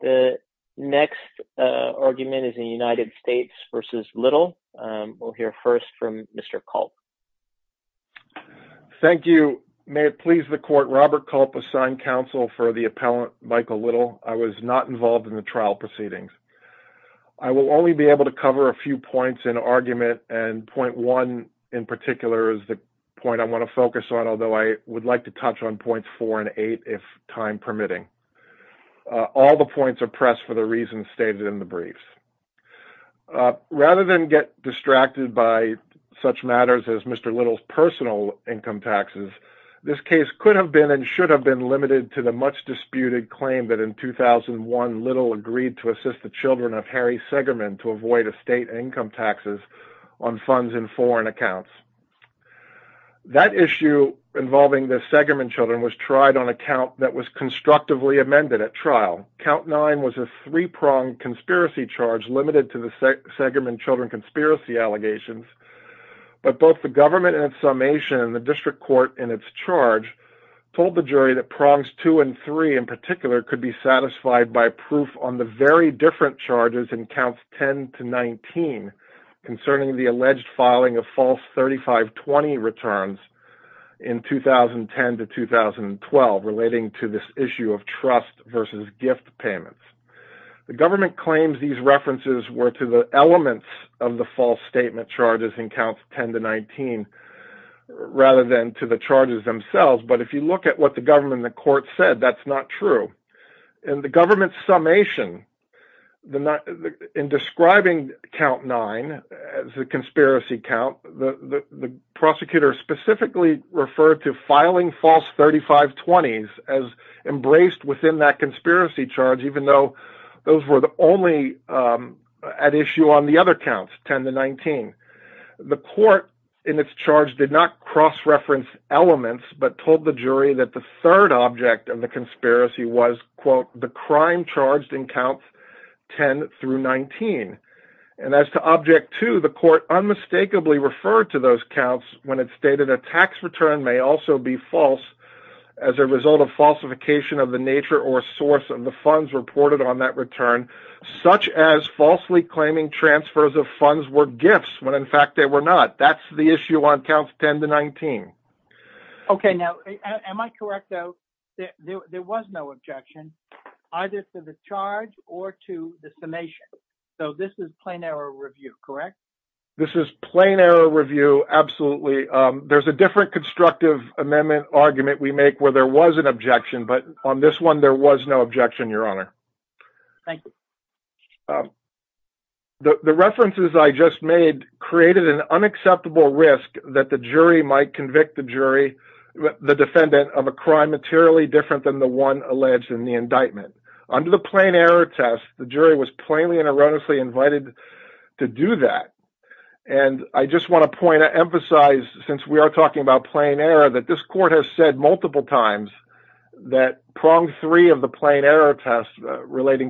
The next argument is in United States v. Little. We'll hear first from Mr. Culp. Thank you. May it please the court, Robert Culp, assigned counsel for the appellant Michael Little. I was not involved in the trial proceedings. I will only be able to cover a few points in argument and point one in particular is the point I want to focus on, although I would like to touch on points four and eight if time permitting. All the points are pressed for the reasons stated in the briefs. Rather than get distracted by such matters as Mr. Little's personal income taxes, this case could have been and should have been limited to the much disputed claim that in 2001, Little agreed to assist the children of Harry Segerman to avoid estate income taxes on funds in foreign accounts. That issue involving the Segerman children was tried on a count that was constructively amended at trial. Count nine was a three-pronged conspiracy charge limited to the Segerman children conspiracy allegations, but both the government and its summation and the district court in its charge told the jury that prongs two and three in particular could be satisfied by proof on the very different charges in counts 10-19 concerning the alleged filing of false 3520 returns in 2010-2012 relating to this issue of trust versus gift payments. The government claims these references were to the elements of the false statement charges in counts 10-19 rather than to the charges themselves, but if you look at the government and the court, that is not true. In the government's summation, in describing count nine as a conspiracy count, the prosecutor specifically referred to filing false 3520s as embraced within that conspiracy charge even though those were the only at issue on the other counts, 10-19. The court in its charge did not cross-reference elements but told the jury that the third object of the conspiracy was, quote, the crime charged in counts 10-19. And as to object two, the court unmistakably referred to those counts when it stated a tax return may also be false as a result of falsification of the nature or source of the funds reported on that return, such as falsely claiming transfers of funds were gifts when in issue on counts 10-19. Okay. Now, am I correct, though, that there was no objection, either to the charge or to the summation? So this is plain error review, correct? This is plain error review, absolutely. There's a different constructive amendment argument we make where there was an objection, but on this one, there was no objection, Your Honor. Thank you. The references I just made created an unacceptable risk that the jury might convict the jury, the defendant, of a crime materially different than the one alleged in the indictment. Under the plain error test, the jury was plainly and erroneously invited to do that. And I just want to point out, emphasize, since we are talking about plain error, that this court has said relating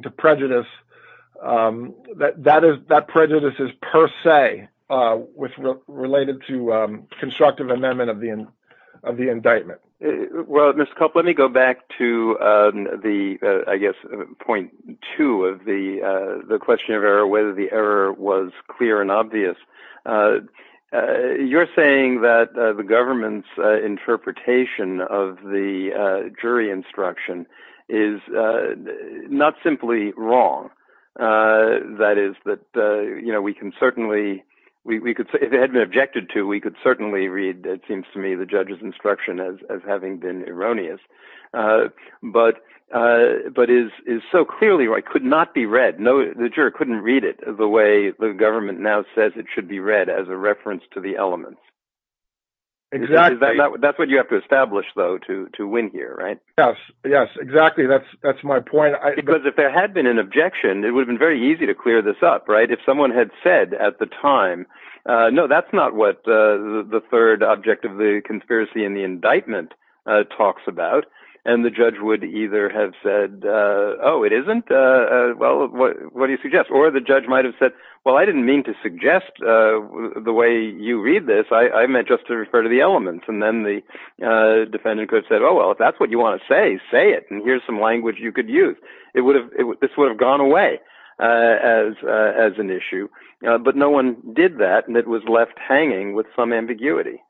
to prejudice, that prejudice is per se related to constructive amendment of the indictment. Well, Mr. Culp, let me go back to the, I guess, point two of the question of error, whether the error was clear and obvious. You're saying that the government's interpretation of the jury instruction is not simply wrong. That is that we can certainly, if it had been objected to, we could certainly read, it seems to me, the judge's instruction as having been erroneous, but is so clearly right, could not be read. The jury couldn't read it the way the government now says it should be read as a reference to the element. That's what you have to establish, though, to win here, right? Yes. Yes, exactly. That's my point. Because if there had been an objection, it would have been very easy to clear this up, right? If someone had said at the time, no, that's not what the third object of the conspiracy in the indictment talks about. And the judge would either have said, oh, it isn't? Well, what do you suggest? Or the judge might have said, well, I didn't mean to suggest the way you read this. I meant just to refer to the well, if that's what you want to say, say it. And here's some language you could use. This would have gone away as an issue. But no one did that. And it was left hanging with some ambiguity.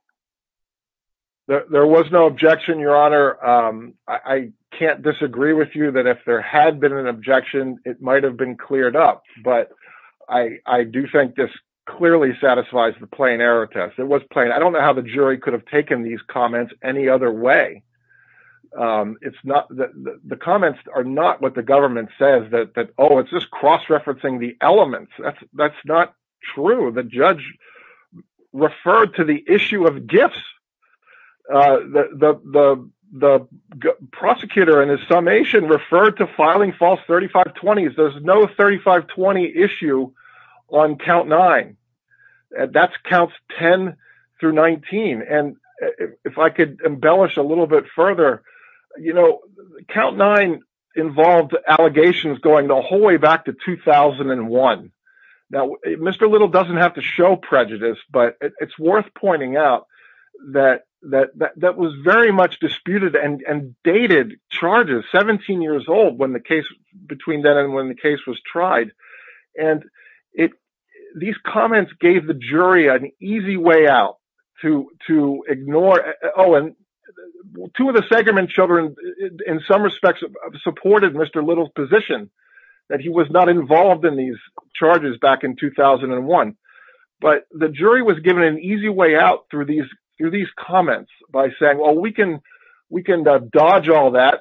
There was no objection, Your Honor. I can't disagree with you that if there had been an objection, it might have been cleared up. But I do think this clearly satisfies the plain error test. It was plain. I don't know how the jury could have taken these comments any other way. The comments are not what the government says that, oh, it's just cross-referencing the elements. That's not true. The judge referred to the issue of gifts. The prosecutor in his summation referred to filing false 3520s. There's no 3520 issue on count nine. That's counts 10 through 19. And if I could embellish a little bit further, count nine involved allegations going the whole way back to 2001. Now, Mr. Little doesn't have to show prejudice, but it's worth pointing out that that was very much disputed and dated charges 17 years old between then and when the case was tried. And these comments gave the jury an easy way out to ignore. Oh, and two of the Segerman children, in some respects, supported Mr. Little's position that he was not involved in these charges back in 2001. But the jury was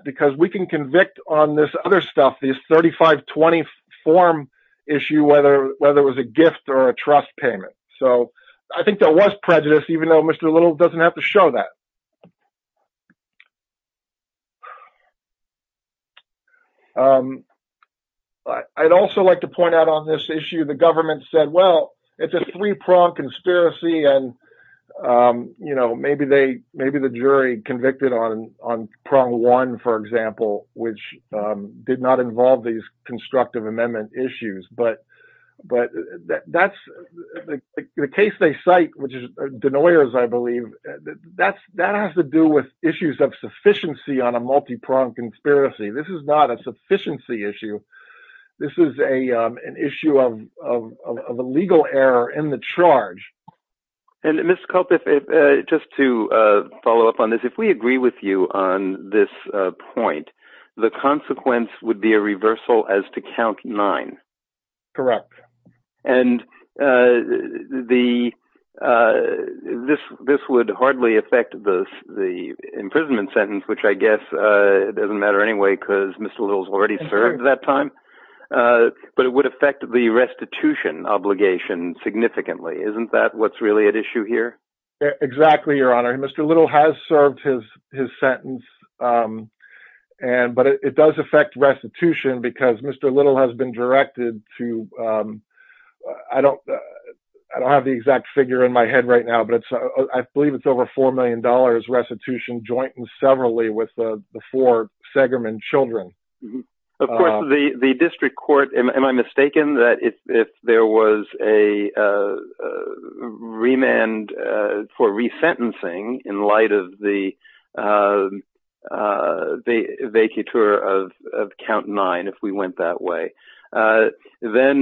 because we can convict on this other stuff, these 3520 form issue, whether it was a gift or a trust payment. So I think that was prejudice, even though Mr. Little doesn't have to show that. I'd also like to point out on this issue, the government said, well, it's a three-prong conspiracy. And maybe the jury convicted on prong one, for example, which did not involve these constructive amendment issues. But the case they cite, which is Denoyer's, I believe, that has to do with issues of sufficiency on a multi-prong conspiracy. This is not a sufficiency And Mr. Culp, just to follow up on this, if we agree with you on this point, the consequence would be a reversal as to count nine. Correct. And this would hardly affect the imprisonment sentence, which I guess doesn't matter anyway, because Mr. Little's already served that time. But it would affect the restitution obligation significantly. Isn't that what's really at issue here? Exactly, Your Honor. Mr. Little has served his sentence. But it does affect restitution because Mr. Little has been directed to... I don't have the exact figure in my head right now, but I believe it's over $4 million restitution joint and severally with the four Segerman children. Of course, the district court, am I mistaken that if there was a remand for resentencing in light of the vacatur of count nine, if we went that way, then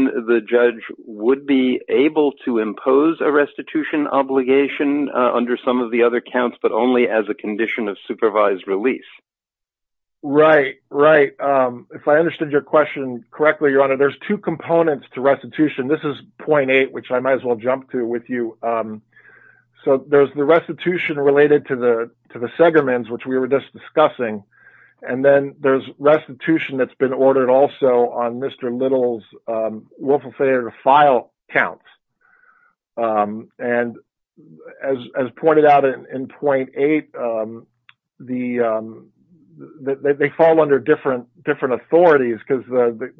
the judge would be able to impose a restitution obligation under some of the other counts, but only as a condition of supervised release. Right. If I understood your question correctly, Your Honor, there's two components to restitution. This is 0.8, which I might as well jump to with you. So there's the restitution related to the Segermans, which we were just discussing. And then there's restitution that's ordered also on Mr. Little's willful failure to file counts. And as pointed out in 0.8, they fall under different authorities because the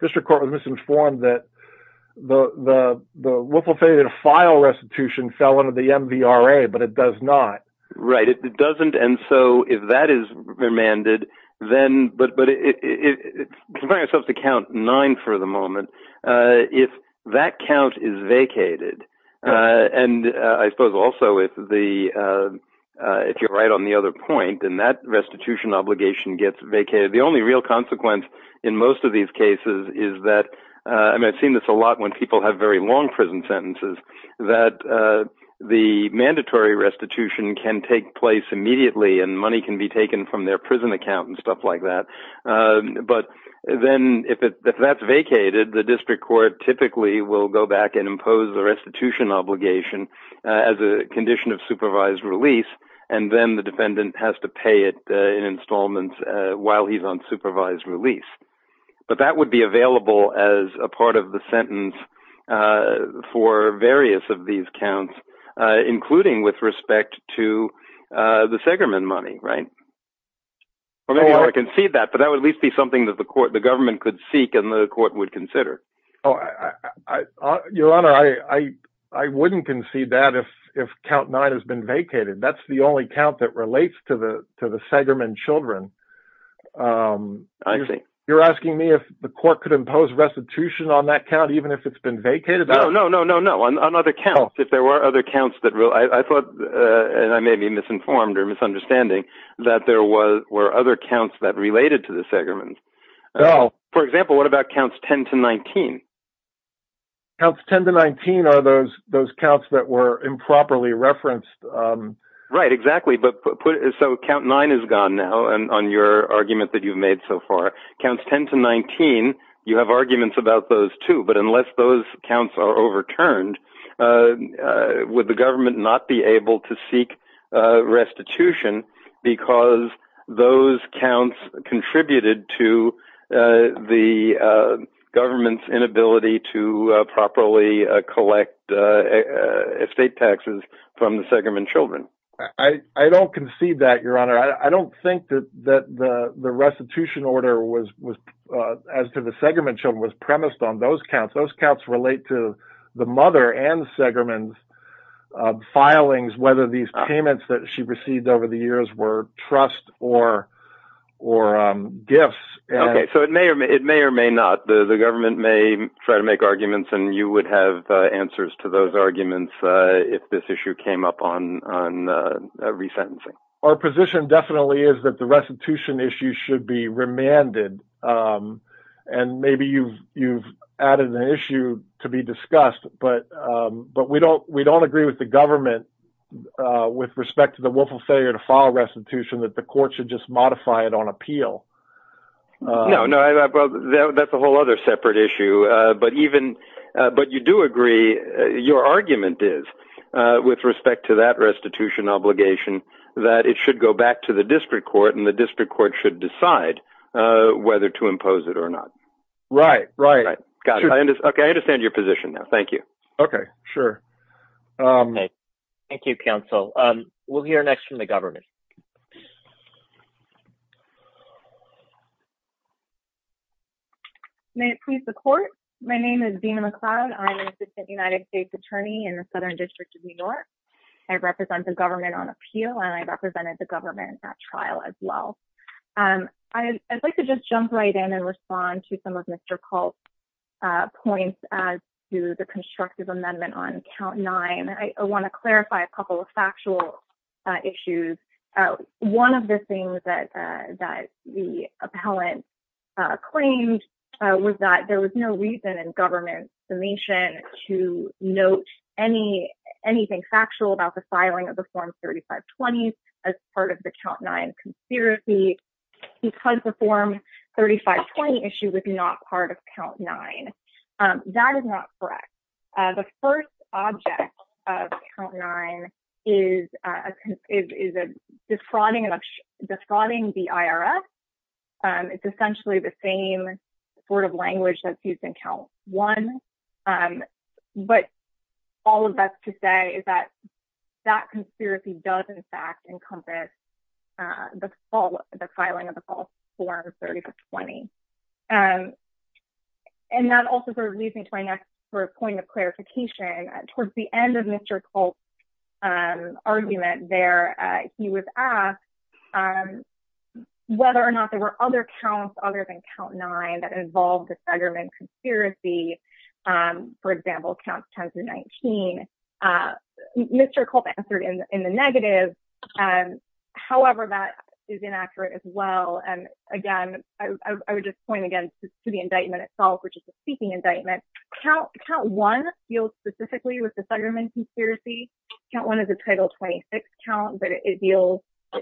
district court was misinformed that the willful failure to file restitution fell under the MVRA, but it does not. Right, it doesn't. And so if that is remanded, then but but if I have to count nine for the moment, if that count is vacated, and I suppose also if the if you're right on the other point, and that restitution obligation gets vacated, the only real consequence in most of these cases is that I've seen this a lot when people have very long prison sentences, that the mandatory restitution can take place immediately and money can be taken from their prison account and stuff like that. But then if that's vacated, the district court typically will go back and impose the restitution obligation as a condition of supervised release. And then the defendant has to pay it in installments while he's on supervised release. But that would be available as a part of sentence for various of these counts, including with respect to the Segerman money, right? Or maybe I can see that, but that would at least be something that the court the government could seek and the court would consider. Oh, I, Your Honor, I, I wouldn't concede that if if count nine has been vacated. That's the only count that relates to the to the Segerman children. I think you're asking me if the court could impose restitution on that count, even if it's been vacated. No, no, no, no, no. On other counts, if there were other counts that real, I thought, and I may be misinformed or misunderstanding that there was were other counts that related to the Segerman. Oh, for example, what about counts 10 to 19? Counts 10 to 19 are those those counts that were improperly referenced. Right, exactly. But so count nine is gone now. And on your argument that you've made so far, counts 10 to 19, you have arguments about those two. But unless those counts are overturned, would the government not be able to seek restitution because those counts contributed to the government's inability to properly collect estate taxes from the Segerman children? I don't concede that, Your Honor. I don't think that that the restitution order was as to the Segerman children was premised on those counts. Those counts relate to the mother and Segerman's filings, whether these payments that she received over the years were trust or gifts. Okay. So it may or may not. The government may try to make arguments and you would have answers to those arguments if this issue came up on resentencing. Our position definitely is that the restitution issue should be remanded. And maybe you've added an issue to be discussed, but we don't agree with the government with respect to the willful failure to file restitution that the court should just modify it on appeal. No, no, that's a whole other separate issue. But even but you do agree your argument is with respect to that restitution obligation that it should go back to the district court and the district court should decide whether to impose it or not. Right, right. Got it. Okay. I understand your position now. Thank you. Okay, sure. Thank you, counsel. We'll hear next from the government. May it please the court. My name is Dina McLeod. I'm an assistant United States attorney in the Southern District of New York. I represent the government on appeal and I represented the government at trial as well. And I'd like to just jump right in and respond to some of Mr. Culp's points as to the constructive amendment on count nine. I want to clarify a couple of factual issues. One of the things that that the appellant claimed was that there was no reason in government summation to note any anything factual about the filing of the form 3520 as part of the count nine conspiracy because the form 3520 issue was not part of count nine. That is not correct. The first object of count nine is a is a defrauding and defrauding the IRS. It's essentially the same sort of language that's used in count one. But all of us to say is that that conspiracy does in fact encompass the fall, the filing of the false form 30 to 20. And that also sort of leads me to my next point of clarification. Towards the end of Mr. Culp's argument there, he was asked whether or not there were other counts other than count nine that involved a segment conspiracy. For example, count 10 to 19. Mr. Culp answered in the negative. However, that is inaccurate as well. And again, I would just point again to the indictment itself, which is a speaking indictment. Count one deals specifically with the segment conspiracy. Count one is a title 26 count, but it deals,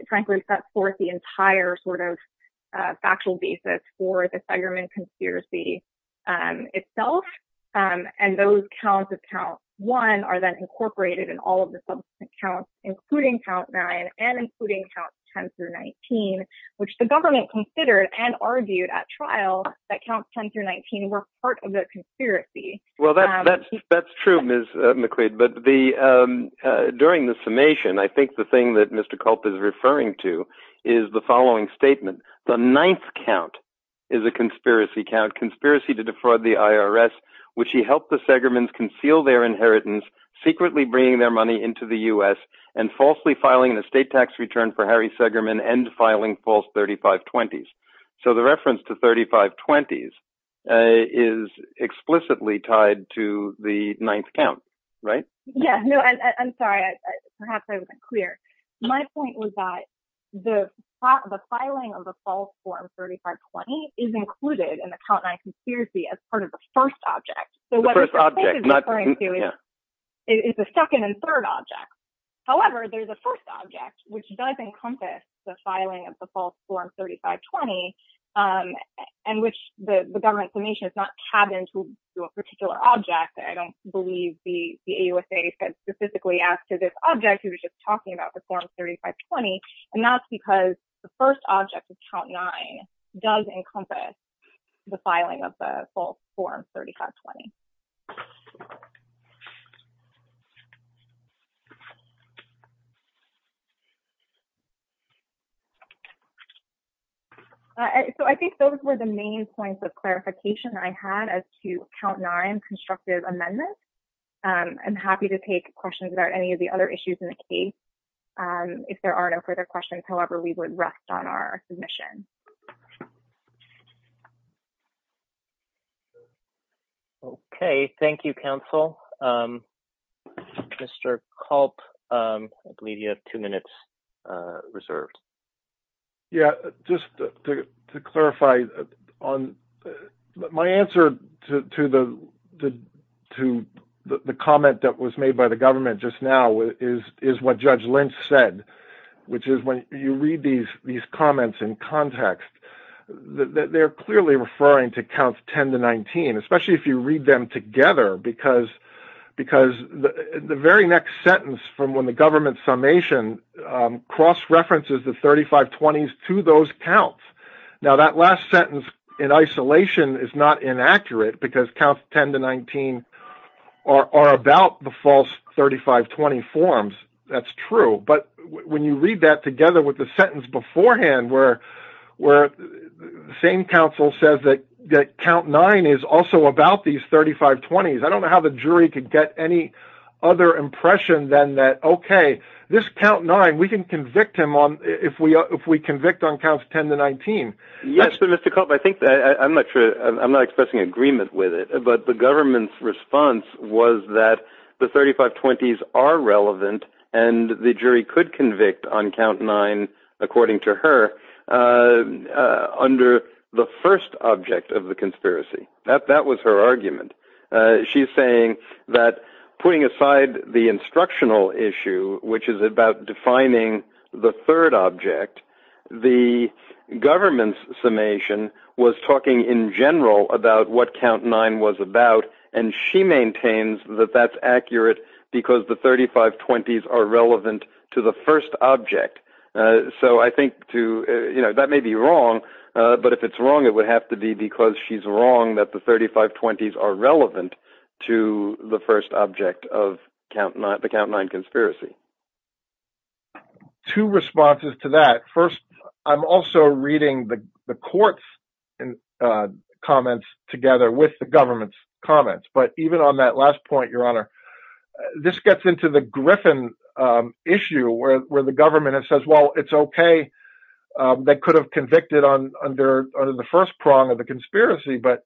frankly, set forth the entire sort of factual basis for the segment conspiracy and itself. And those counts of count one are then incorporated in all of the subsequent counts, including count nine and including count 10 through 19, which the government considered and argued at trial that count 10 through 19 were part of the conspiracy. Well, that's that's true, Ms. McQuade. But the during the summation, I think the thing that Mr. Culp is referring to is the following statement. The ninth count is a conspiracy count to defraud the IRS, which he helped the Segerman's conceal their inheritance, secretly bringing their money into the US and falsely filing an estate tax return for Harry Segerman and filing false 3520s. So the reference to 3520s is explicitly tied to the ninth count, right? Yeah, no, I'm sorry. Perhaps I wasn't clear. My point was that the filing of the false form 3520 is included in the count nine conspiracy as part of the first object. The first object. It's the second and third object. However, there's a first object which does encompass the filing of the false form 3520 and which the government summation is not tabbed into a particular object. I don't believe the AUSA said specifically as to this object. He was just talking about the form 3520. And that's because the first object of count nine does encompass the filing of the false form 3520. So I think those were the main points of clarification I had as to count nine constructive amendments. I'm happy to take questions about any of the other issues in the case. If there are no further questions, however, we would rest on our submission. Okay, thank you, counsel. Mr. Culp, I believe you have two minutes reserved. Yeah, just to clarify on my answer to the comment that was made by the government just now is what Judge Lynch said, which is when you read these comments in context, they're clearly referring to count 10 to 19, especially if you read them together, because the very next sentence from when the government summation cross references the 3520s to those counts. Now that last sentence in isolation is not inaccurate because count 10 to 19 are about the false 3520 forms. That's true. But when you read that together with the sentence beforehand, where the same counsel says that count nine is also about these 3520s, I don't know how the jury could get any other impression than that. Okay, this count nine, we can convict him if we convict on counts 10 to 19. Yes, but Mr. Culp, I'm not expressing agreement with it. But the government's response was that the 3520s are relevant, and the jury could convict on count nine, according to her, under the first object of the conspiracy. That was her argument. She's saying that putting aside the instructional issue, which is about defining the third object, the government's summation was talking in general about what count nine was about. She maintains that that's accurate because the 3520s are relevant to the first object. I think that may be wrong, but if it's wrong, it would have to be because she's wrong that the 3520s are relevant to the first object of the count nine conspiracy. Two responses to that. First, I'm also reading the court's comments together with the government's comments. But even on that last point, Your Honor, this gets into the Griffin issue where the government says, well, it's okay. They could have convicted under the first prong of the conspiracy. But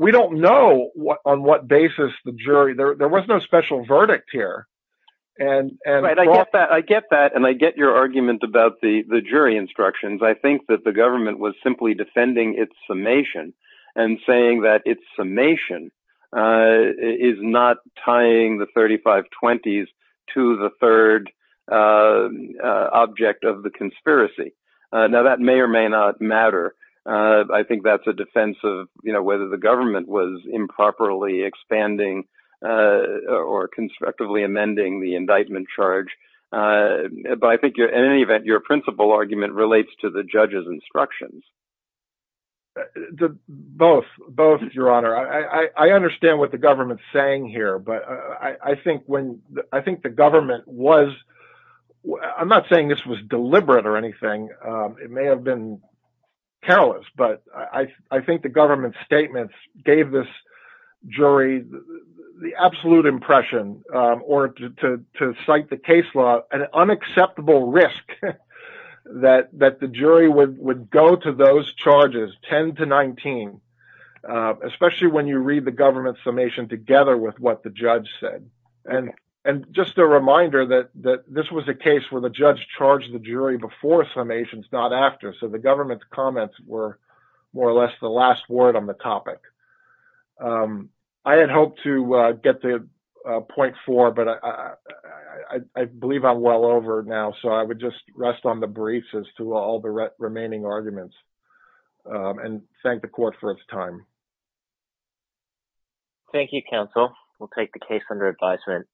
we don't know on what basis the jury, there was no special verdict here. And I get that. And I get your argument about the jury instructions. I think that the government was simply defending its summation and saying that its summation is not tying the 3520s to the third object of the conspiracy. Now, that may or may not matter. I think that's a defense of whether the government was improperly expanding or constructively amending the indictment charge. But I think in any event, your principal argument relates to the judge's instructions. Both, Your Honor, I understand what the government's saying here, but I think the government was I'm not saying this was deliberate or anything. It may have been careless, but I think the government's statements gave this jury the absolute impression or to cite the case law, an unacceptable risk that the jury would go to those charges, 10 to 19, especially when you read the government's summation together with what the judge said. And just a reminder that this was a case where the judge charged the jury before summations, not after. So the government's more or less the last word on the topic. I had hoped to get to point four, but I believe I'm well over now. So I would just rest on the briefs as to all the remaining arguments and thank the court for its time. Thank you, counsel. We'll take the case under advisement.